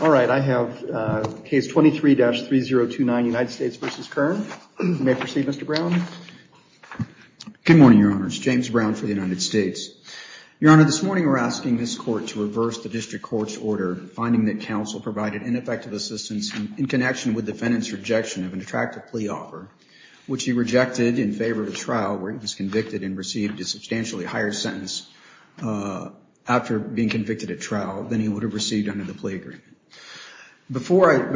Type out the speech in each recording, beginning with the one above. All right, I have case 23-3029, United States v. Kearn. You may proceed, Mr. Brown. Good morning, Your Honor. It's James Brown for the United States. Your Honor, this morning we're asking this Court to reverse the District Court's order finding that counsel provided ineffective assistance in connection with defendant's rejection of an attractive plea offer, which he rejected in favor of a trial where he was convicted and received a substantially higher sentence after being convicted at trial than he would have received under the plea agreement. Before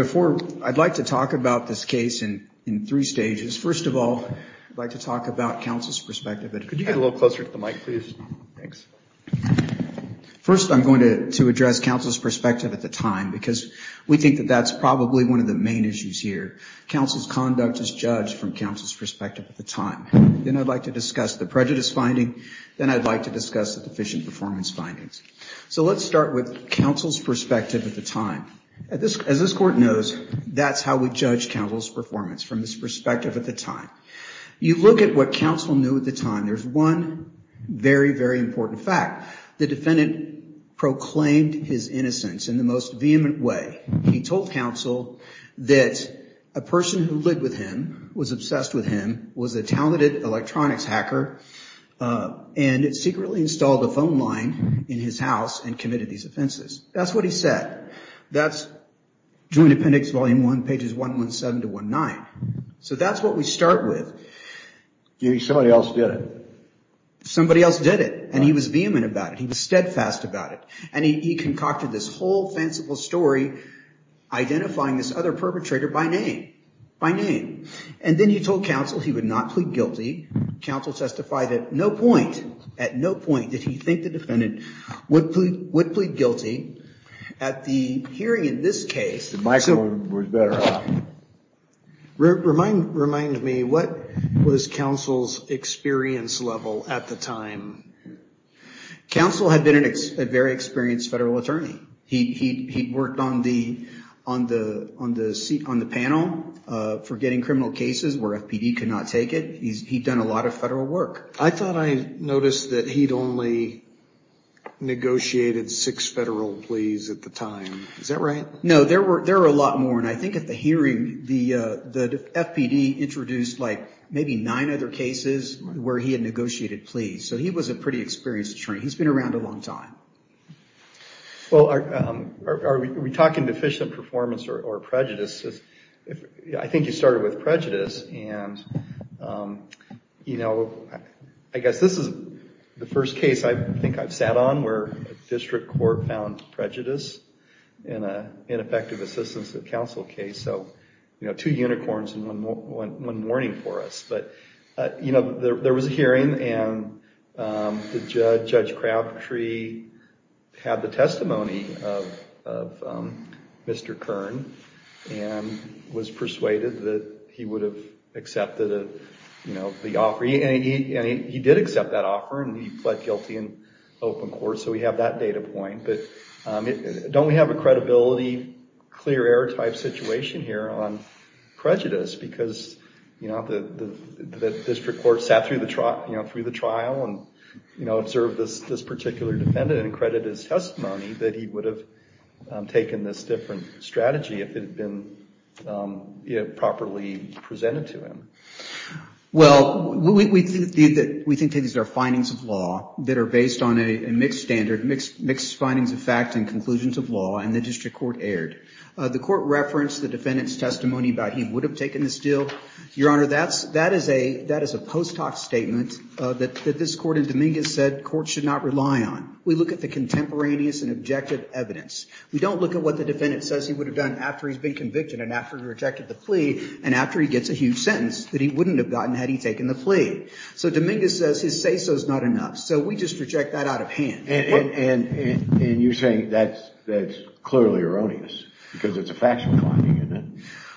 I'd like to talk about this case in three stages, first of all, I'd like to talk about counsel's perspective. Could you get a little closer to the mic, please? Thanks. First, I'm going to address counsel's perspective at the time because we think that that's probably one of the main issues here. Counsel's conduct is judged from counsel's perspective at the time. Then I'd like to discuss the prejudice finding. Then I'd like to discuss the deficient performance findings. So let's start with counsel's perspective at the time. As this Court knows, that's how we judge counsel's performance, from his perspective at the time. You look at what counsel knew at the time. There's one very, very important fact. The defendant proclaimed his innocence in the most vehement way. He told counsel that a person who lived with him, was obsessed with him, was a talented electronics hacker, and secretly installed a phone line in his house and committed these offenses. That's what he said. That's Joint Appendix Volume 1, pages 117 to 119. So that's what we start with. Somebody else did it. Somebody else did it. And he was vehement about it. He was steadfast about it. And he concocted this whole fanciful story, identifying this other perpetrator by name. And then he told counsel he would not plead guilty. Counsel testified at no point, at no point, did he think the defendant would plead guilty. At the hearing in this case, Remind me, what was counsel's experience level at the time? Counsel had been a very experienced federal attorney. He'd worked on the panel for getting criminal cases where FPD could not take it. He'd done a lot of federal work. I thought I noticed that he'd only negotiated six federal pleas at the time. Is that right? No, there were a lot more. And I think at the hearing, the FPD introduced maybe nine other cases where he had negotiated pleas. So he was a pretty experienced attorney. He's been around a long time. Are we talking deficient performance or prejudice? I think you started with prejudice. And, you know, I guess this is the first case I think I've sat on where a district court found prejudice in an ineffective assistance of counsel case. So, you know, two unicorns and one warning for us. But, you know, there was a hearing, and Judge Crabtree had the testimony of Mr. Kern and was persuaded that he would have accepted the offer. And he did accept that offer, and he pled guilty in open court. So we have that data point. But don't we have a credibility, clear air type situation here on prejudice? Because, you know, the district court sat through the trial and, you know, observed this particular defendant and credited his testimony that he would have taken this different strategy if it had been properly presented to him. Well, we think these are findings of law that are based on a mixed standard, mixed findings of fact and conclusions of law, and the district court erred. The court referenced the defendant's testimony about he would have taken this deal. Your Honor, that is a post hoc statement that this court in Dominguez said courts should not rely on. We look at the contemporaneous and objective evidence. We don't look at what the defendant says he would have done after he's been convicted and after he rejected the plea and after he gets a huge sentence that he wouldn't have gotten had he taken the plea. So Dominguez says his say-so is not enough. So we just reject that out of hand. And you're saying that's clearly erroneous because it's a factual finding, isn't it?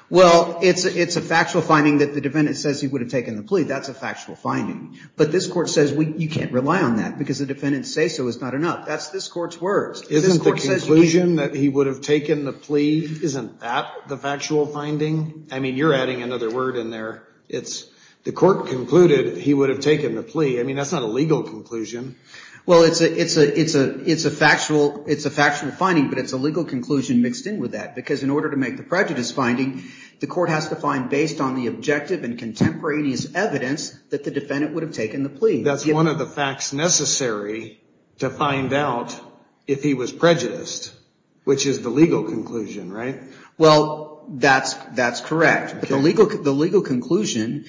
Well, it's a factual finding that the defendant says he would have taken the plea. That's a factual finding. But this court says you can't rely on that because the defendant's say-so is not enough. That's this court's words. Isn't the conclusion that he would have taken the plea, isn't that the factual finding? I mean, you're adding another word in there. It's the court concluded he would have taken the plea. I mean, that's not a legal conclusion. Well, it's a factual finding, but it's a legal conclusion mixed in with that because in order to make the prejudice finding, the court has to find based on the objective and contemporaneous evidence that the defendant would have taken the plea. That's one of the facts necessary to find out if he was prejudiced, which is the legal conclusion, right? Well, that's correct. The legal conclusion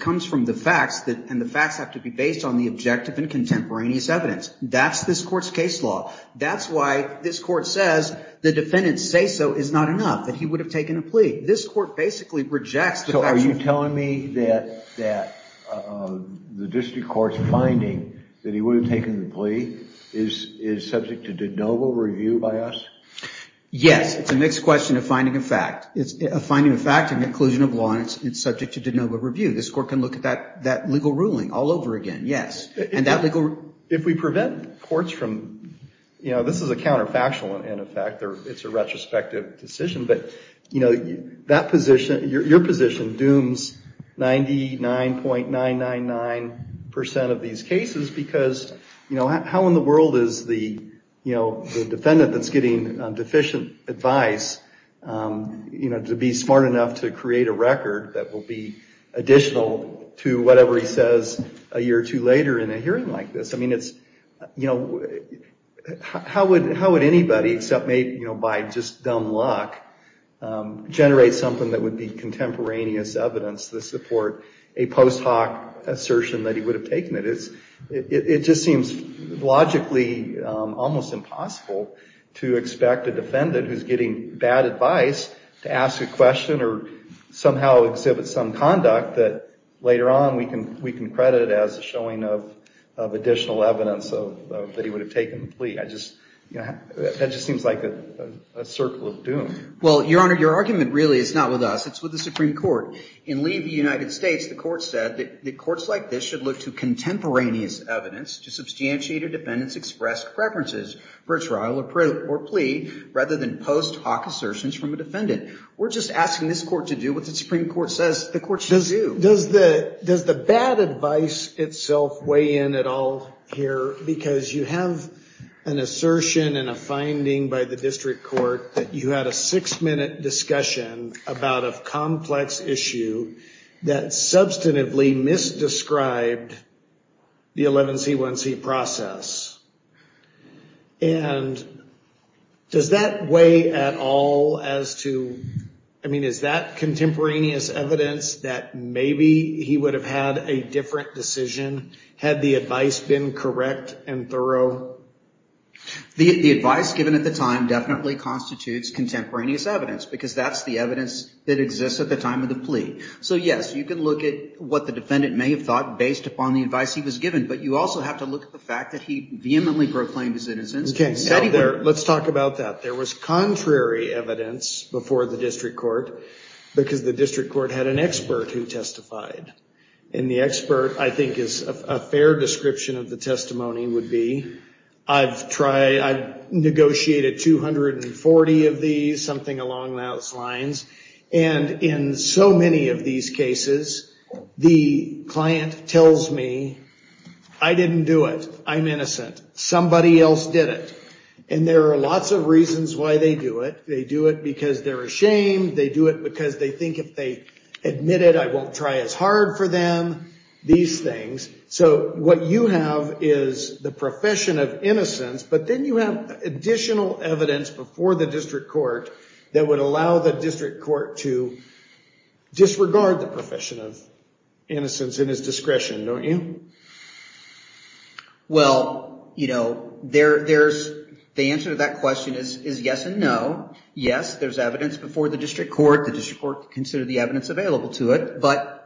comes from the facts, and the facts have to be based on the objective and contemporaneous evidence. That's this court's case law. That's why this court says the defendant's say-so is not enough, that he would have taken a plea. So are you telling me that the district court's finding that he would have taken the plea is subject to de novo review by us? Yes. It's a mixed question of finding a fact. It's a finding of fact and inclusion of law, and it's subject to de novo review. This court can look at that legal ruling all over again, yes. If we prevent courts from, you know, this is a counterfactual, in effect. It's a retrospective decision, but your position dooms 99.999% of these cases because how in the world is the defendant that's getting deficient advice to be smart enough to create a record that will be additional to whatever he says a year or two later, in a hearing like this? I mean, it's, you know, how would anybody, except maybe by just dumb luck, generate something that would be contemporaneous evidence to support a post hoc assertion that he would have taken it? It just seems logically almost impossible to expect a defendant who's getting bad advice to ask a question or somehow exhibit some conduct that later on we can credit as a showing of additional evidence that he would have taken the plea. That just seems like a circle of doom. Well, Your Honor, your argument really is not with us. It's with the Supreme Court. In Lee v. United States, the court said that courts like this should look to contemporaneous evidence to substantiate a defendant's expressed preferences for trial or plea rather than post hoc assertions from a defendant. We're just asking this court to do what the Supreme Court says the court should do. Does the bad advice itself weigh in at all here? Because you have an assertion and a finding by the district court that you had a six-minute discussion about a complex issue that substantively misdescribed the 11C1C process. And does that weigh at all as to, I mean, is that contemporaneous evidence that maybe he would have had a different decision had the advice been correct and thorough? The advice given at the time definitely constitutes contemporaneous evidence because that's the evidence that exists at the time of the plea. So yes, you can look at what the defendant may have thought based upon the advice he was given. But you also have to look at the fact that he vehemently proclaimed his innocence. Let's talk about that. There was contrary evidence before the district court because the district court had an expert who testified. And the expert, I think, is a fair description of the testimony would be, I've negotiated 240 of these, something along those lines. And in so many of these cases, the client tells me, I didn't do it. I'm innocent. Somebody else did it. And there are lots of reasons why they do it. They do it because they're ashamed. They do it because they think if they admit it, I won't try as hard for them, these things. So what you have is the profession of innocence. But then you have additional evidence before the district court that would allow the district court to disregard the profession of innocence in its discretion, don't you? Well, the answer to that question is yes and no. Yes, there's evidence before the district court. The district court can consider the evidence available to it. But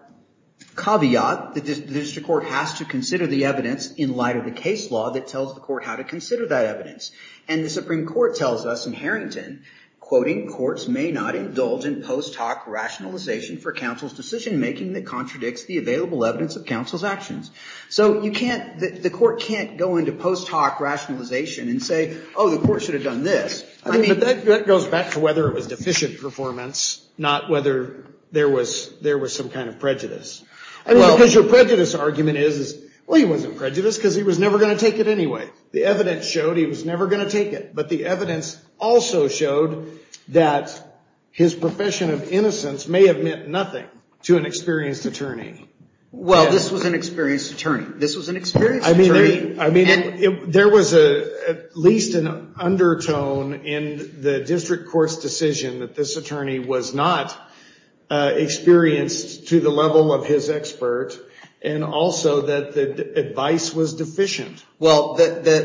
caveat, the district court has to consider the evidence in light of the case law that tells the court how to consider that evidence. And the Supreme Court tells us in Harrington, quoting, courts may not indulge in post hoc rationalization for counsel's decision making that contradicts the available evidence of counsel's actions. So the court can't go into post hoc rationalization and say, oh, the court should have done this. But that goes back to whether it was deficient performance, not whether there was some kind of prejudice. Because your prejudice argument is, well, he wasn't prejudiced because he was never going to take it anyway. The evidence showed he was never going to take it. But the evidence also showed that his profession of innocence may have meant nothing to an experienced attorney. Well, this was an experienced attorney. This was an experienced attorney. There was at least an undertone in the district court's decision that this attorney was not experienced to the level of his expert. And also that the advice was deficient. Well,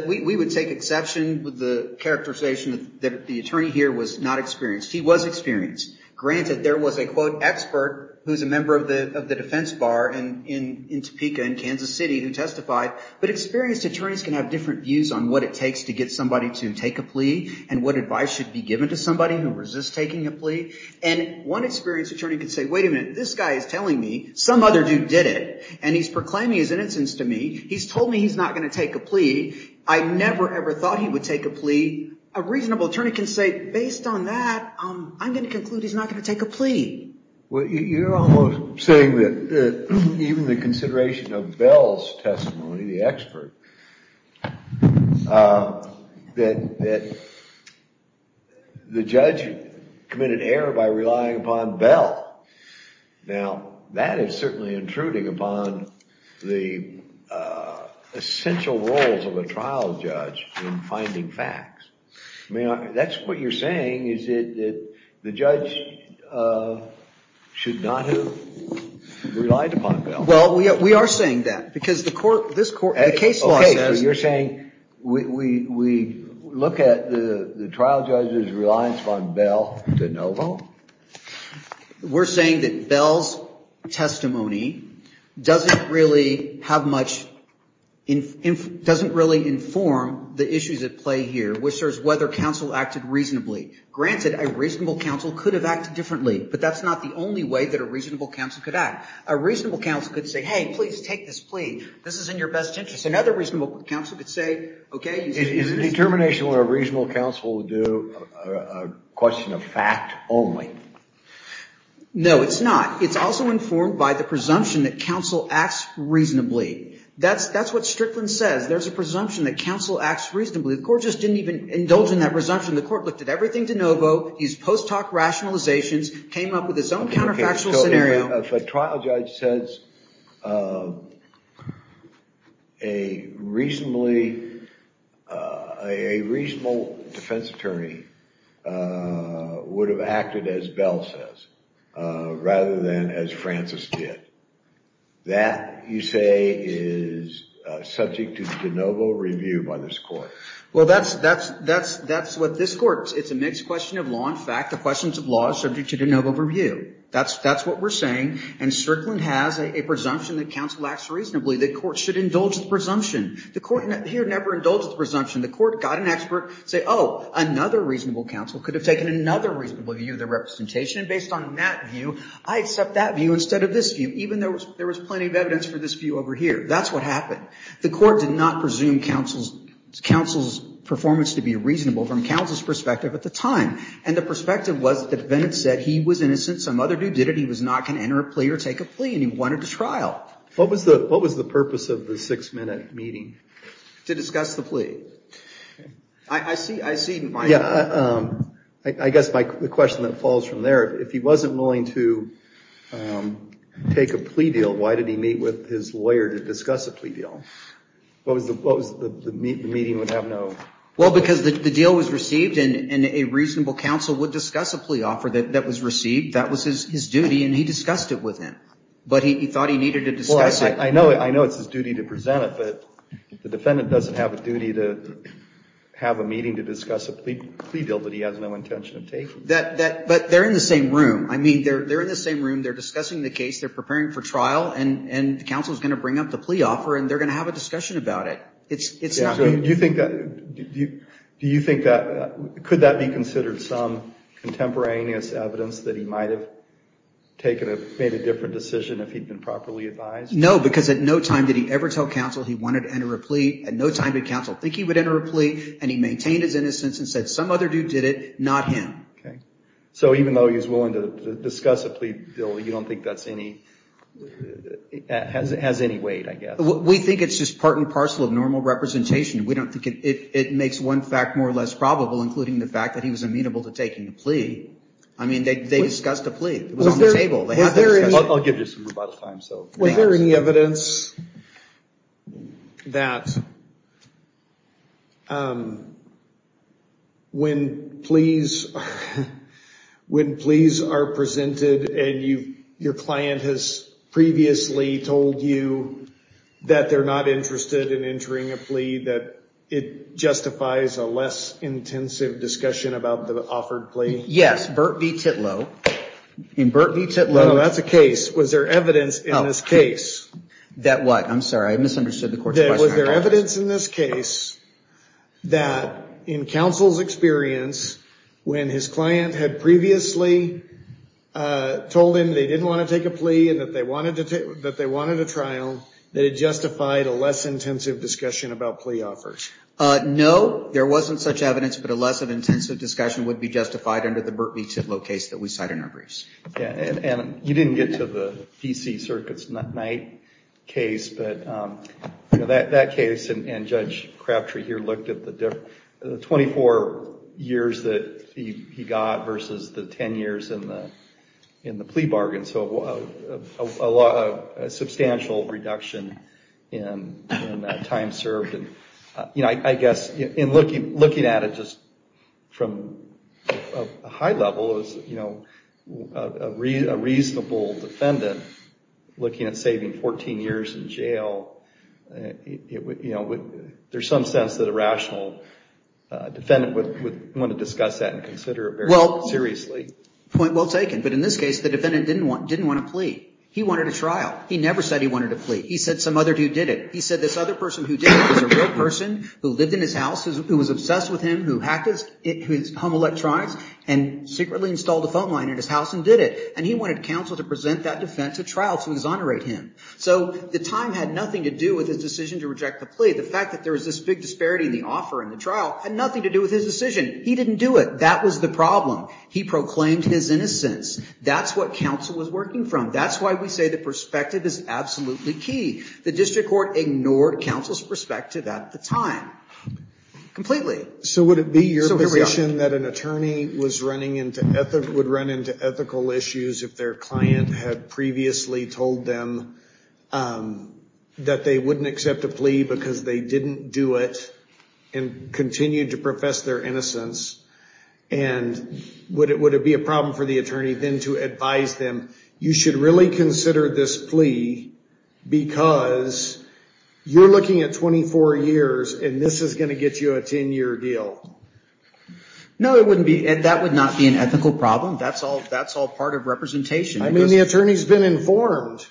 we would take exception with the characterization that the attorney here was not experienced. He was experienced. Granted, there was a, quote, expert who was a member of the defense bar in Topeka in Kansas City who testified. But experienced attorneys can have different views on what it takes to get somebody to take a plea and what advice should be given to somebody who resists taking a plea. And one experienced attorney could say, wait a minute. This guy is telling me some other dude did it. And he's proclaiming his innocence to me. He's told me he's not going to take a plea. I never, ever thought he would take a plea. A reasonable attorney can say, based on that, I'm going to conclude he's not going to take a plea. Well, you're almost saying that even the consideration of Bell's testimony, the expert, that the judge committed error by relying upon Bell. Now, that is certainly intruding upon the essential roles of a trial judge in finding facts. I mean, that's what you're saying, is that the judge should not have relied upon Bell. Well, we are saying that. Because the court, this court, the case law says. So you're saying we look at the trial judge's reliance upon Bell to no vote? We're saying that Bell's testimony doesn't really have much, doesn't really inform the issues at play here, which is whether counsel acted reasonably. Granted, a reasonable counsel could have acted differently, but that's not the only way that a reasonable counsel could act. A reasonable counsel could say, hey, please take this plea. This is in your best interest. Another reasonable counsel could say, OK. Is the determination of a reasonable counsel to do a question of fact only? No, it's not. It's also informed by the presumption that counsel acts reasonably. That's what Strickland says. There's a presumption that counsel acts reasonably. The court just didn't even indulge in that presumption. The court looked at everything to no vote, used post hoc rationalizations, came up with its own counterfactual scenario. If a trial judge says a reasonable defense attorney would have acted as Bell says, rather than as Francis did, that, you say, is subject to de novo review by this court? Well, that's what this court, it's a mixed question of law and fact. The questions of law are subject to de novo review. That's what we're saying. And Strickland has a presumption that counsel acts reasonably. The court should indulge the presumption. The court here never indulged the presumption. The court got an expert to say, oh, another reasonable counsel could have taken another reasonable view of the representation. And based on that view, I accept that view instead of this view, even though there was plenty of evidence for this view over here. That's what happened. The court did not presume counsel's performance to be reasonable from counsel's perspective at the time. And the perspective was that the defendant said he was innocent. Some other dude did it. He was not going to enter a plea or take a plea. And he wanted a trial. What was the purpose of the six minute meeting? To discuss the plea. I see. I see. Yeah. I guess the question that falls from there, if he wasn't willing to take a plea deal, why did he meet with his lawyer to discuss a plea deal? What was the meeting would have no? Well, because the deal was received and a reasonable counsel would discuss a plea offer that was received. That was his duty. And he discussed it with him. But he thought he needed to discuss it. I know it's his duty to present it. But the defendant doesn't have a duty to have a meeting to discuss a plea deal that he has no intention of taking. But they're in the same room. I mean, they're in the same room. They're discussing the case. They're preparing for trial. And the counsel is going to bring up the plea offer. And they're going to have a discussion about it. Do you think that could that be considered some contemporaneous evidence that he might have made a different decision if he'd been properly advised? No, because at no time did he ever tell counsel he wanted to enter a plea. At no time did counsel think he would enter a plea. And he maintained his innocence and said some other dude did it, not him. OK. So even though he was willing to discuss a plea deal, you don't think that has any weight, I guess? We think it's just part and parcel of normal representation. We don't think it makes one fact more or less probable, including the fact that he was amenable to taking a plea. I mean, they discussed a plea. It was on the table. I'll give you some rebuttal time. Was there any evidence that when pleas are presented and your client has previously told you that they're not interested in entering a plea, that it justifies a less intensive discussion about the offered plea? Yes. Bert V. Titlow. Bert V. Titlow. No, that's a case. Was there evidence in this case? That what? I'm sorry. I misunderstood the court's question. Was there evidence in this case that in counsel's experience, when his client had previously told him they didn't want to take a plea and that they wanted a trial, that it justified a less intensive discussion about plea offers? No, there wasn't such evidence. But a less intensive discussion would be justified under the Bert V. Titlow case that we cite in our briefs. You didn't get to the DC Circuit's Knight case, but that case and Judge Crabtree here looked at the 24 years that he got versus the 10 years in the plea bargain. So a substantial reduction in that time served. I guess in looking at it just from a high level, a reasonable defendant looking at saving 14 years in jail, there's some sense that a rational defendant would want to discuss that and consider it very seriously. Well, point well taken. But in this case, the defendant didn't want a plea. He wanted a trial. He never said he wanted a plea. He said some other dude did it. He said this other person who did it was a real person who lived in his house, who was obsessed with him, who hacked his home electronics and secretly installed a phone line in his house and did it. And he wanted counsel to present that defense at trial to exonerate him. So the time had nothing to do with his decision to reject the plea. The fact that there was this big disparity in the offer and the trial had nothing to do with his decision. He didn't do it. That was the problem. He proclaimed his innocence. That's what counsel was working from. That's why we say the perspective is absolutely key. The district court ignored counsel's perspective at the time completely. So would it be your position that an attorney would run into ethical issues if their client had previously told them that they wouldn't accept a plea because they didn't do it and continued to profess their innocence? And would it be a problem for the attorney then to advise them you should really consider this plea because you're looking at 24 years and this is going to get you a 10-year deal? No, it wouldn't be. That would not be an ethical problem. That's all part of representation. I mean, the attorney's been informed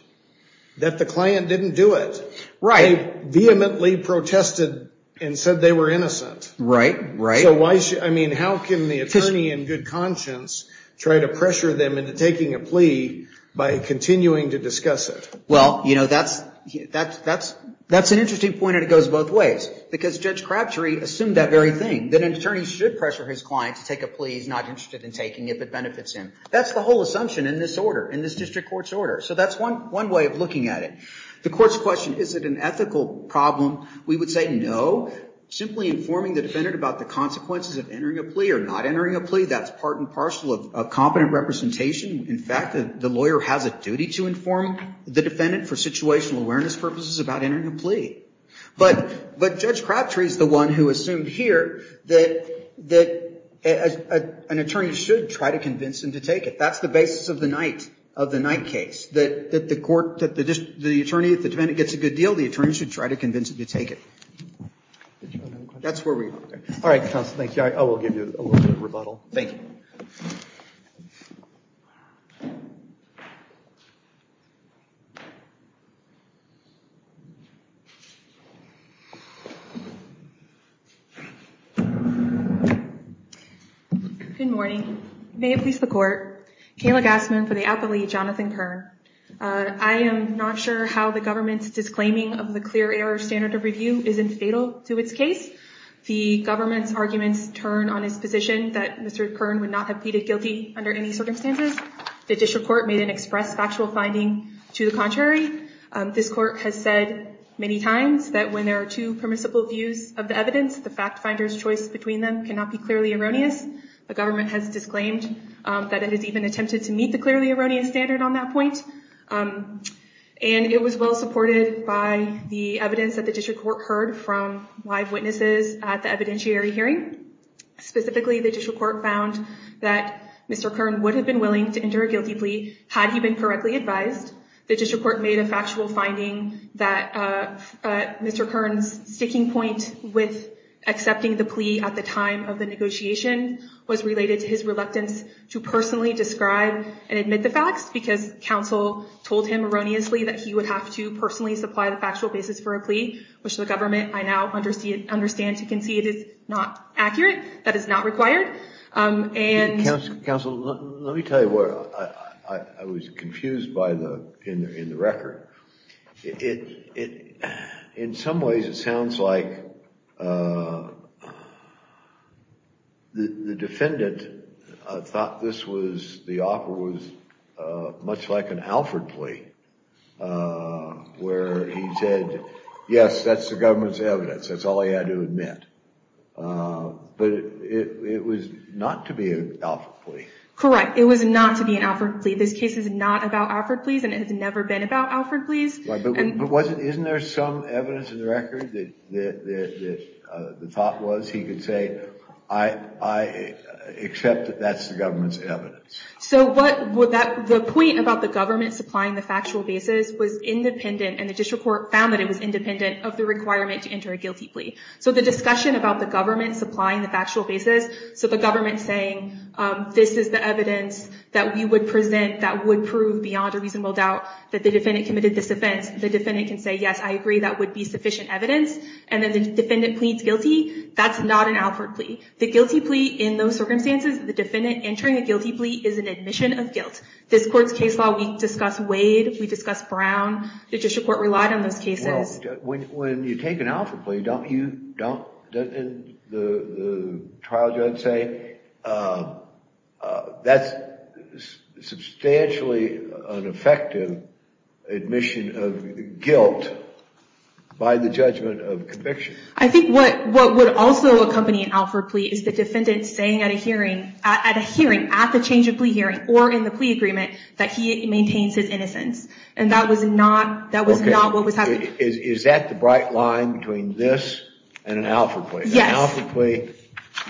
that the client didn't do it. Right. They vehemently protested and said they were innocent. Right, right. I mean, how can the attorney in good conscience try to pressure them into taking a plea by continuing to discuss it? Well, you know, that's an interesting point, and it goes both ways. Because Judge Crabtree assumed that very thing, that an attorney should pressure his client to take a plea he's not interested in taking if it benefits him. That's the whole assumption in this order, in this district court's order. So that's one way of looking at it. The court's question, is it an ethical problem? We would say no. Simply informing the defendant about the consequences of entering a plea or not entering a plea, that's part and parcel of competent representation. In fact, the lawyer has a duty to inform the defendant for situational awareness purposes about entering a plea. But Judge Crabtree is the one who assumed here that an attorney should try to convince him to take it. That's the basis of the Knight case. That the court, the attorney, if the defendant gets a good deal, the attorney should try to convince him to take it. That's where we are. All right, counsel, thank you. I will give you a little bit of rebuttal. Thank you. Good morning. May it please the court. Kayla Gassman for the appellee, Jonathan Kern. I am not sure how the government's disclaiming of the clear error standard of review isn't fatal to its case. The government's arguments turn on its position that Mr. Kern would not have pleaded guilty under any circumstances. The district court made an express factual finding to the contrary. This court has said many times that when there are two permissible views of the evidence, the fact finder's choice between them cannot be clearly erroneous. The government has disclaimed that it has even attempted to meet the clearly erroneous standard on that point. And it was well supported by the evidence that the district court heard from live witnesses at the evidentiary hearing. Specifically, the district court found that Mr. Kern would have been willing to enter a guilty plea had he been correctly advised. The district court made a factual finding that Mr. Kern's sticking point with accepting the plea at the time of the negotiation was related to his reluctance to personally describe and admit the facts, because counsel told him erroneously that he would have to personally supply the factual basis for a plea, which the government I now understand to concede is not accurate. That is not required. Counsel, let me tell you what I was confused by in the record. In some ways it sounds like the defendant thought the offer was much like an Alford plea, where he said, yes, that's the government's evidence. But it was not to be an Alford plea. Correct. It was not to be an Alford plea. This case is not about Alford pleas, and it has never been about Alford pleas. But isn't there some evidence in the record that the thought was he could say, I accept that that's the government's evidence. So the point about the government supplying the factual basis was independent, and the district court found that it was independent of the requirement to enter a guilty plea. So the discussion about the government supplying the factual basis, so the government saying this is the evidence that we would present that would prove beyond a reasonable doubt that the defendant committed this offense, the defendant can say, yes, I agree that would be sufficient evidence, and then the defendant pleads guilty, that's not an Alford plea. The guilty plea in those circumstances, the defendant entering a guilty plea is an admission of guilt. This court's case law, we discuss Wade, we discuss Brown, the district court relied on those cases. When you take an Alford plea, the trial judge say, that's substantially an effective admission of guilt by the judgment of conviction. I think what would also accompany an Alford plea is the defendant saying at a hearing, at a hearing, at the change of plea hearing, or in the plea agreement, that he maintains his innocence. And that was not what was happening. Is that the bright line between this and an Alford plea? Yes. An Alford plea,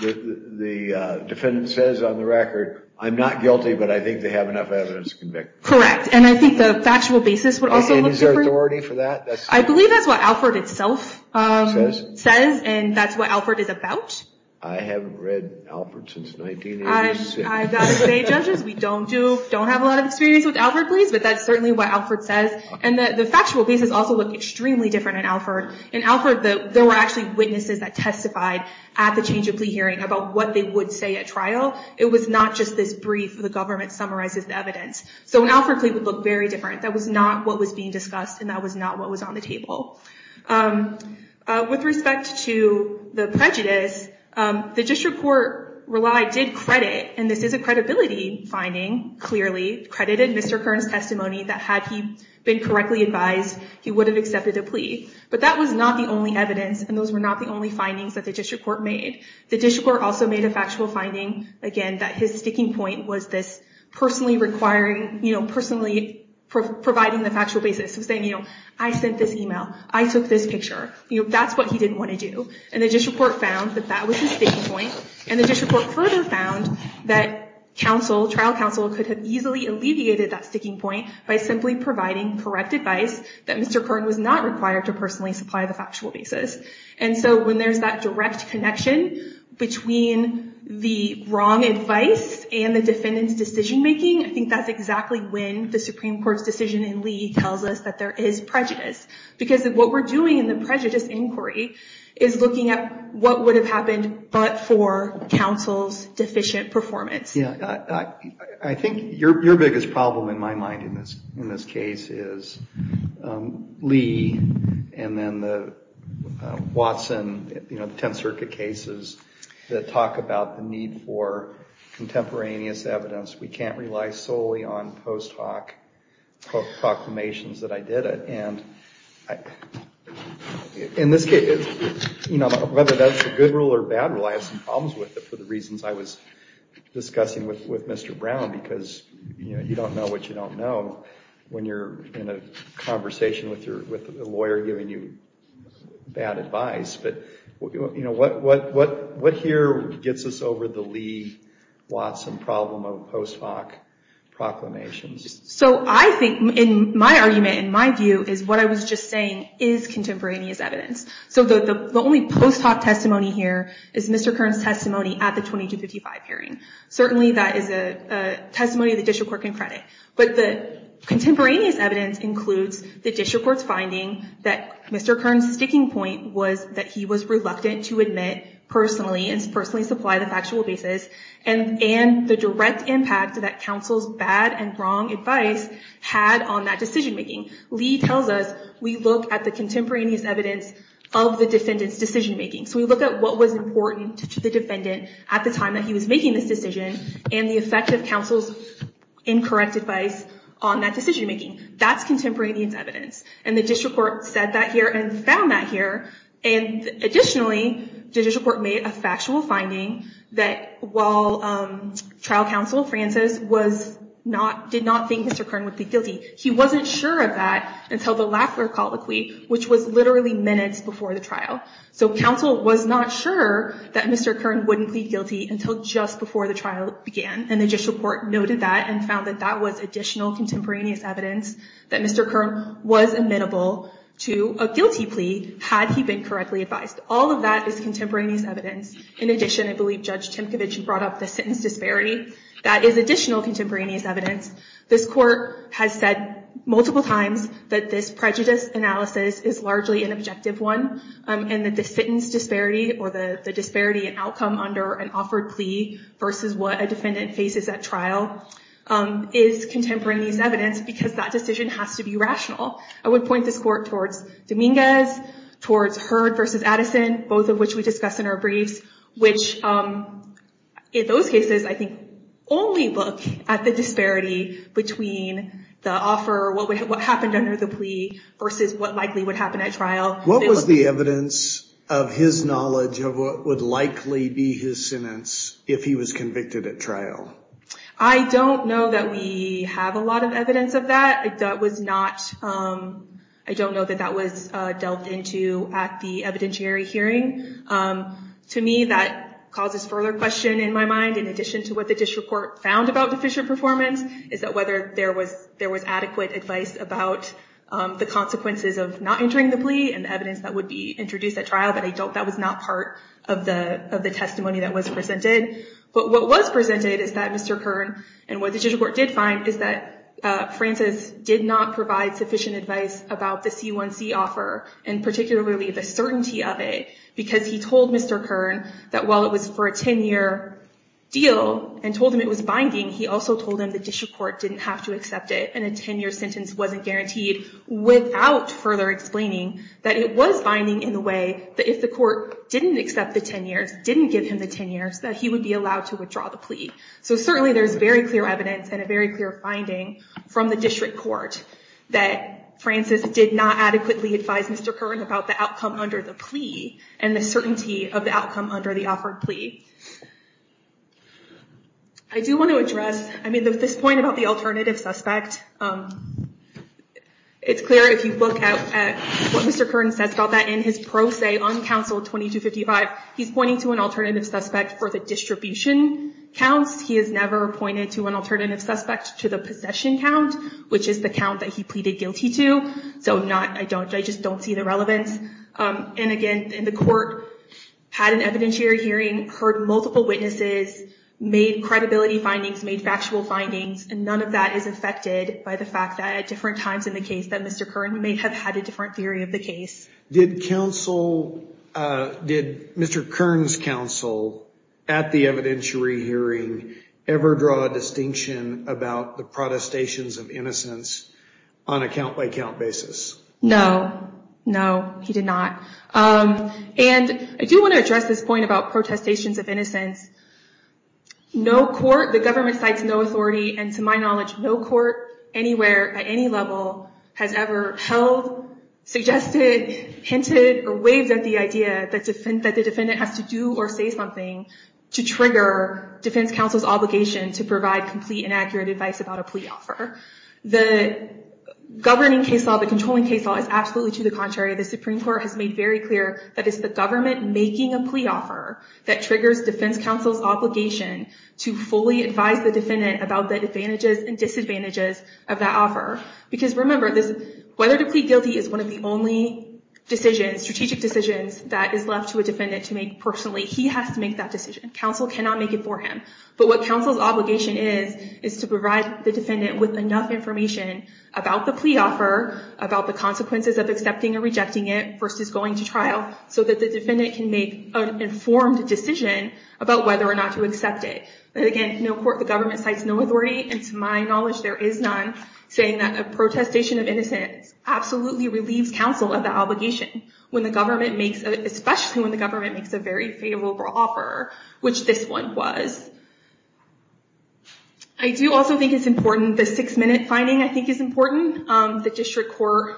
the defendant says on the record, I'm not guilty, but I think they have enough evidence to convict me. Correct. And I think the factual basis would also look different. And is there authority for that? I believe that's what Alford itself says, and that's what Alford is about. I haven't read Alford since 1986. I would say, judges, we don't have a lot of experience with Alford pleas, but that's certainly what Alford says. And the factual basis also looked extremely different in Alford. In Alford, there were actually witnesses that testified at the change of plea hearing about what they would say at trial. It was not just this brief where the government summarizes the evidence. So an Alford plea would look very different. That was not what was being discussed, and that was not what was on the table. With respect to the prejudice, the district court relied, did credit, and this is a credibility finding, clearly, credited Mr. Kern's testimony that had he been correctly advised, he would have accepted a plea. But that was not the only evidence, and those were not the only findings that the district court made. The district court also made a factual finding, again, that his sticking point was this personally requiring, personally providing the factual basis. Saying, I sent this email. I took this picture. That's what he didn't want to do. And the district court found that that was his sticking point. And the district court further found that trial counsel could have easily alleviated that sticking point by simply providing correct advice that Mr. Kern was not required to personally supply the factual basis. And so when there's that direct connection between the wrong advice and the defendant's decision making, I think that's exactly when the Supreme Court's decision in Lee tells us that there is prejudice. Because what we're doing in the prejudice inquiry is looking at what would have happened but for counsel's deficient performance. Yeah, I think your biggest problem in my mind in this case is Lee and then the Watson, you know, the Tenth Circuit cases that talk about the need for contemporaneous evidence. We can't rely solely on post hoc proclamations that I did it. And in this case, whether that's a good rule or a bad rule, I have some problems with it for the reasons I was discussing with Mr. Brown. Because you don't know what you don't know when you're in a conversation with a lawyer giving you bad advice. But what here gets us over the Lee-Watson problem of post hoc proclamations? So I think, in my argument, in my view, is what I was just saying is contemporaneous evidence. So the only post hoc testimony here is Mr. Kern's testimony at the 2255 hearing. Certainly that is a testimony the district court can credit. But the contemporaneous evidence includes the district court's finding that Mr. Kern's sticking point was that he was reluctant to admit personally and personally supply the factual basis and the direct impact that counsel's bad and wrong advice had on that decision making. Lee tells us, we look at the contemporaneous evidence of the defendant's decision making. So we look at what was important to the defendant at the time that he was making this decision and the effect of counsel's incorrect advice on that decision making. That's contemporaneous evidence. And the district court said that here and found that here. And additionally, the district court made a factual finding that while trial counsel, Francis, did not think Mr. Kern would be guilty, he wasn't sure of that until the Lafler colloquy, which was literally minutes before the trial. So counsel was not sure that Mr. Kern wouldn't be guilty until just before the trial began. And the district court noted that and found that that was additional contemporaneous evidence that Mr. Kern was admittable to a guilty plea had he been correctly advised. All of that is contemporaneous evidence. In addition, I believe Judge Timkovich brought up the sentence disparity. That is additional contemporaneous evidence. This court has said multiple times that this prejudice analysis is largely an objective one and that the sentence disparity or the disparity in outcome under an offered plea versus what a defendant faces at trial is contemporaneous evidence because that decision has to be rational. I would point this court towards Dominguez, towards Hurd versus Addison, both of which we discussed in our briefs, which in those cases I think only look at the disparity between the offer, what happened under the plea versus what likely would happen at trial. What was the evidence of his knowledge of what would likely be his sentence if he was convicted at trial? I don't know that we have a lot of evidence of that. I don't know that that was delved into at the evidentiary hearing. To me, that causes further question in my mind, in addition to what the district court found about deficient performance, is that whether there was adequate advice about the consequences of not entering the plea and evidence that would be introduced at trial, but that was not part of the testimony that was presented. But what was presented is that Mr. Kern, and what the district court did find, is that Francis did not provide sufficient advice about the C1C offer, and particularly the certainty of it, because he told Mr. Kern that while it was for a 10-year deal and told him it was binding, he also told him the district court didn't have to accept it and a 10-year sentence wasn't guaranteed, without further explaining that it was binding in the way that if the court didn't accept the 10 years, didn't give him the 10 years, that he would be allowed to withdraw the plea. So certainly there's very clear evidence and a very clear finding from the district court that Francis did not adequately advise Mr. Kern about the outcome under the plea and the certainty of the outcome under the offered plea. I do want to address this point about the alternative suspect. It's clear if you look at what Mr. Kern says about that in his pro se on counsel 2255, he's pointing to an alternative suspect for the distribution counts. He has never pointed to an alternative suspect to the possession count, which is the count that he pleaded guilty to. So I just don't see the relevance. And again, the court had an evidentiary hearing, heard multiple witnesses, made credibility findings, made factual findings, and none of that is affected by the fact that at different times in the case that Mr. Kern may have had a different theory of the case. Did counsel... Did Mr. Kern's counsel at the evidentiary hearing ever draw a distinction about the protestations of innocence on a count-by-count basis? No. No, he did not. And I do want to address this point about protestations of innocence. No court, the government cites no authority, and to my knowledge, no court anywhere at any level has ever held, suggested, hinted, or waved at the idea that the defendant has to do or say something to trigger defense counsel's obligation to provide complete and accurate advice about a plea offer. The governing case law, the controlling case law, is absolutely to the contrary. The Supreme Court has made very clear that it's the government making a plea offer that triggers defense counsel's obligation to fully advise the defendant about the advantages and disadvantages of that offer. Because remember, whether to plead guilty is one of the only strategic decisions that is left to a defendant to make personally. He has to make that decision. Counsel cannot make it for him. But what counsel's obligation is is to provide the defendant with enough information about the plea offer, about the consequences of accepting or rejecting it versus going to trial, so that the defendant can make an informed decision about whether or not to accept it. But again, no court, the government cites no authority, and to my knowledge, there is none saying that a protestation of innocence absolutely relieves counsel of the obligation, especially when the government makes a very favorable offer, which this one was. I do also think it's important, the six-minute finding, I think, is important. The district court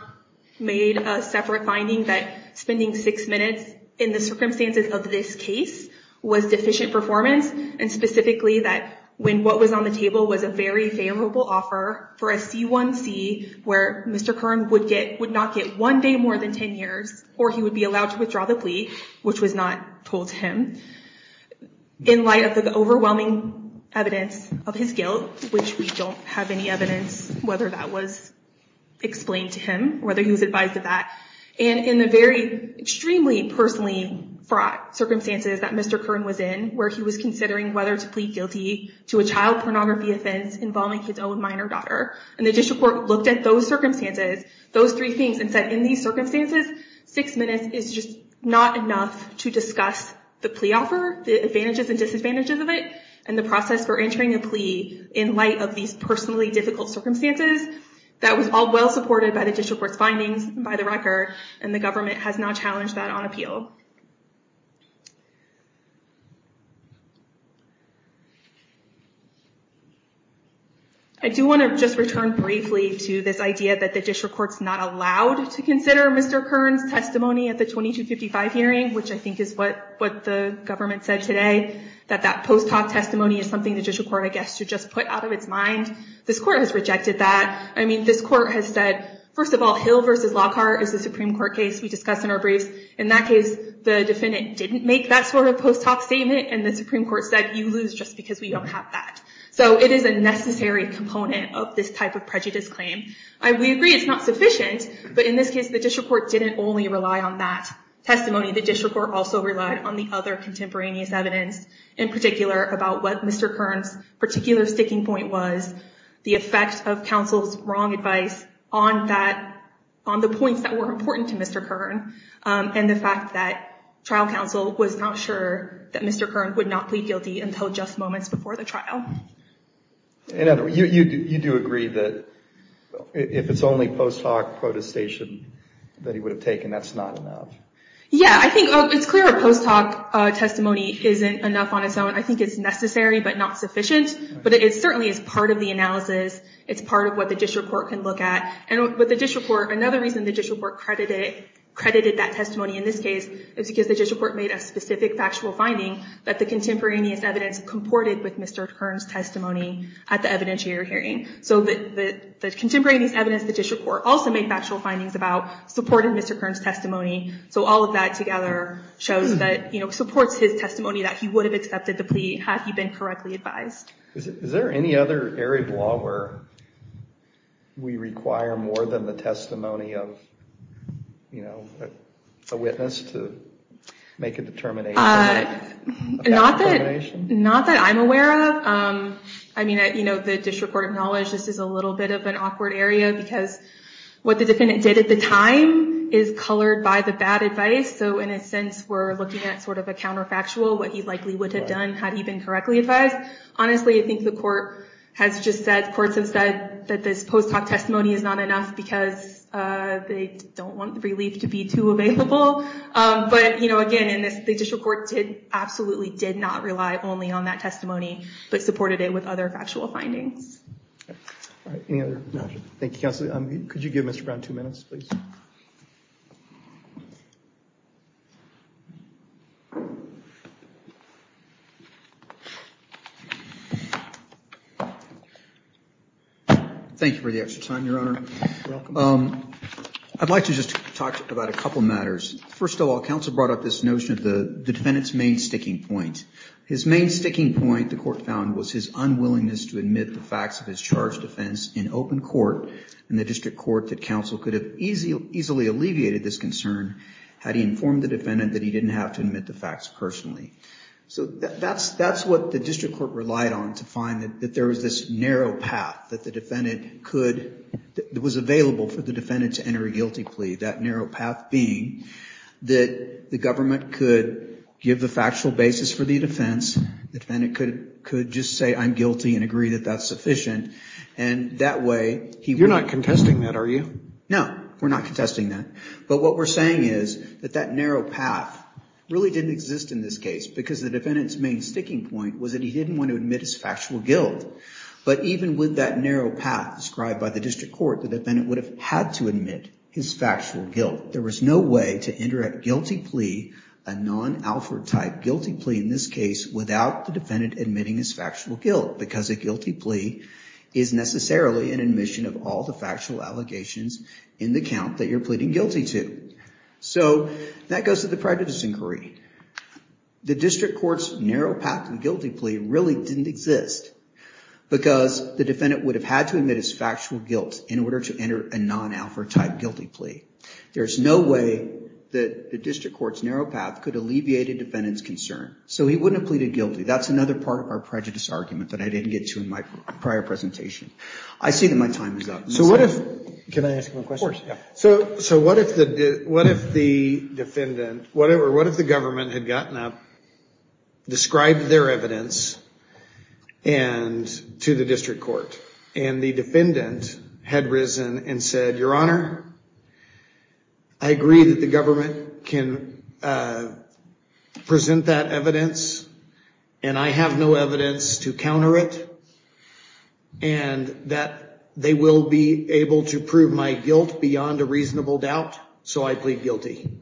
made a separate finding that spending six minutes in the circumstances of this case was deficient performance, and specifically that when what was on the table was a very favorable offer for a C1C, where Mr. Kern would not get one day more than 10 years, or he would be allowed to withdraw the plea, which was not told to him, in light of the overwhelming evidence of his guilt, which we don't have any evidence whether that was explained to him, whether he was advised of that, and in the very extremely personally fraught circumstances that Mr. Kern was in, where he was considering whether to plead guilty to a child pornography offense involving his own minor daughter. And the district court looked at those circumstances, those three things, and said, in these circumstances, six minutes is just not enough to discuss the plea offer, the advantages and disadvantages of it, and the process for entering a plea in light of these personally difficult circumstances. That was all well-supported by the district court's findings, by the record, and the government has now challenged that on appeal. I do want to just return briefly to this idea that the district court's not allowed to consider Mr. Kern's testimony at the 2255 hearing, which I think is what the government said today, that that post-talk testimony is something the district court, I guess, should just put out of its mind. This court has rejected that. I mean, this court has said, first of all, Hill v. Lockhart is a Supreme Court case we discussed in our briefs. In that case, the defendant didn't make that sort of post-talk statement, and the Supreme Court said, you lose just because we don't have that. So it is a necessary component of this type of prejudice claim. We agree it's not sufficient, but in this case, the district court didn't only rely on that testimony. The district court also relied on the other contemporaneous evidence, in particular, about what Mr. Kern's particular sticking point was, the effect of counsel's wrong advice on the points that were important to Mr. Kern, and the fact that trial counsel was not sure that Mr. Kern would not plead guilty until just moments before the trial. And you do agree that if it's only post-talk protestation that he would have taken, that's not enough? Yeah, I think it's clear a post-talk testimony isn't enough on its own. I think it's necessary, but not sufficient. But it certainly is part of the analysis. It's part of what the district court can look at. And with the district court, another reason the district court credited that testimony in this case is because the district court made a specific factual finding that the contemporaneous evidence comported with Mr. Kern's testimony at the evidentiary hearing. So the contemporaneous evidence the district court also made factual findings about supported Mr. Kern's testimony. So all of that together supports his testimony that he would have accepted the plea had he been correctly advised. Is there any other area of law where we require more than the testimony of a witness to make a determination? Not that I'm aware of. I mean, the district court acknowledged this is a little bit of an awkward area because what the defendant did at the time is colored by the bad advice. So in a sense, we're looking at sort of a counterfactual, what he likely would have done had he been correctly advised. Honestly, I think the courts have said that this post-talk testimony is not enough because they don't want the relief to be too available. But again, the district court absolutely did not rely only on that testimony but supported it with other factual findings. All right, any other questions? Thank you, counsel. Could you give Mr. Brown two minutes, please? Thank you for the extra time, Your Honor. I'd like to just talk about a couple matters. First of all, counsel brought up this notion of the defendant's main sticking point. His main sticking point, the court found, was his unwillingness to admit the facts of his charged offense in open court and the district court that counsel could have easily alleviated this concern had he informed the defendant that he didn't have to admit the facts personally. So that's what the district court relied on to find that there was this narrow path that the defendant could, that was available for the defendant to enter a guilty plea, that narrow path being that the government could give the factual basis for the defense, the defendant could just say, I'm guilty and agree that that's sufficient, and that way he would... You're not contesting that, are you? No, we're not contesting that. But what we're saying is that that narrow path really didn't exist in this case because the defendant's main sticking point was that he didn't want to admit his factual guilt. But even with that narrow path described by the district court, the defendant would have had to admit his factual guilt. There was no way to enter a guilty plea, a non-Alford type guilty plea in this case, without the defendant admitting his factual guilt because a guilty plea is necessarily an admission of all the factual allegations in the count that you're pleading guilty to. So that goes to the prejudice inquiry. The district court's narrow path to the guilty plea really didn't exist. Because the defendant would have had to admit his factual guilt in order to enter a non-Alford type guilty plea. There's no way that the district court's narrow path could alleviate a defendant's concern. So he wouldn't have pleaded guilty. That's another part of our prejudice argument that I didn't get to in my prior presentation. I see that my time is up. So what if... Can I ask one question? Of course, yeah. So what if the defendant, what if the government had gotten up, described their evidence, and to the district court, and the defendant had risen and said, Your Honor, I agree that the government can present that evidence, and I have no evidence to counter it, and that they will be able to prove my guilt beyond a reasonable doubt, so I plead guilty.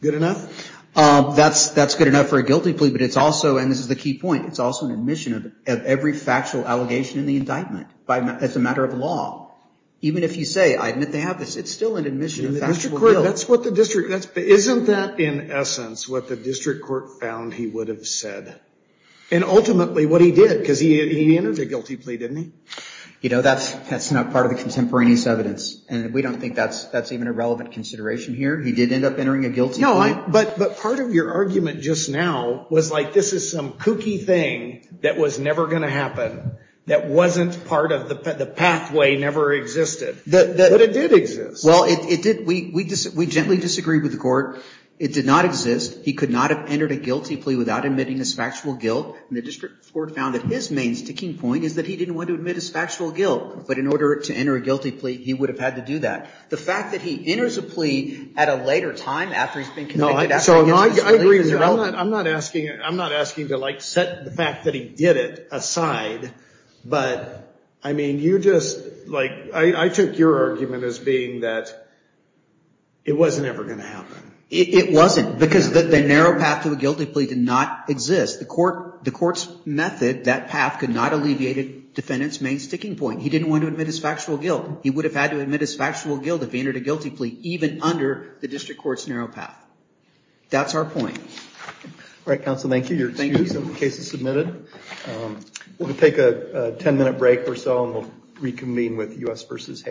Good enough? That's good enough for a guilty plea, but it's also, and this is the key point, it's also an admission of every factual allegation in the indictment as a matter of law. Even if you say, I admit they have this, it's still an admission of factual guilt. Isn't that, in essence, what the district court found he would have said? And ultimately, what he did, because he entered a guilty plea, didn't he? You know, that's not part of the contemporaneous evidence, and we don't think that's even a relevant consideration here. He did end up entering a guilty plea. No, but part of your argument just now was like this is some kooky thing that was never going to happen, that wasn't part of the pathway, never existed. But it did exist. Well, it did. We gently disagreed with the court. It did not exist. He could not have entered a guilty plea without admitting his factual guilt, and the district court found that his main sticking point is that he didn't want to admit his factual guilt, but in order to enter a guilty plea, he would have had to do that. The fact that he enters a plea at a later time after he's been convicted... So I agree with you. I'm not asking to like set the fact that he did it aside, but I mean, you just like... I took your argument as being that it wasn't ever going to happen. It wasn't, because the narrow path to a guilty plea did not exist. The court's method, that path, could not alleviate the defendant's main sticking point. He didn't want to admit his factual guilt. He would have had to admit his factual guilt if he entered a guilty plea, even under the district court's narrow path. That's our point. All right, counsel. Thank you. Your case is submitted. We'll take a 10-minute break or so, and we'll reconvene with U.S. v. Hayes.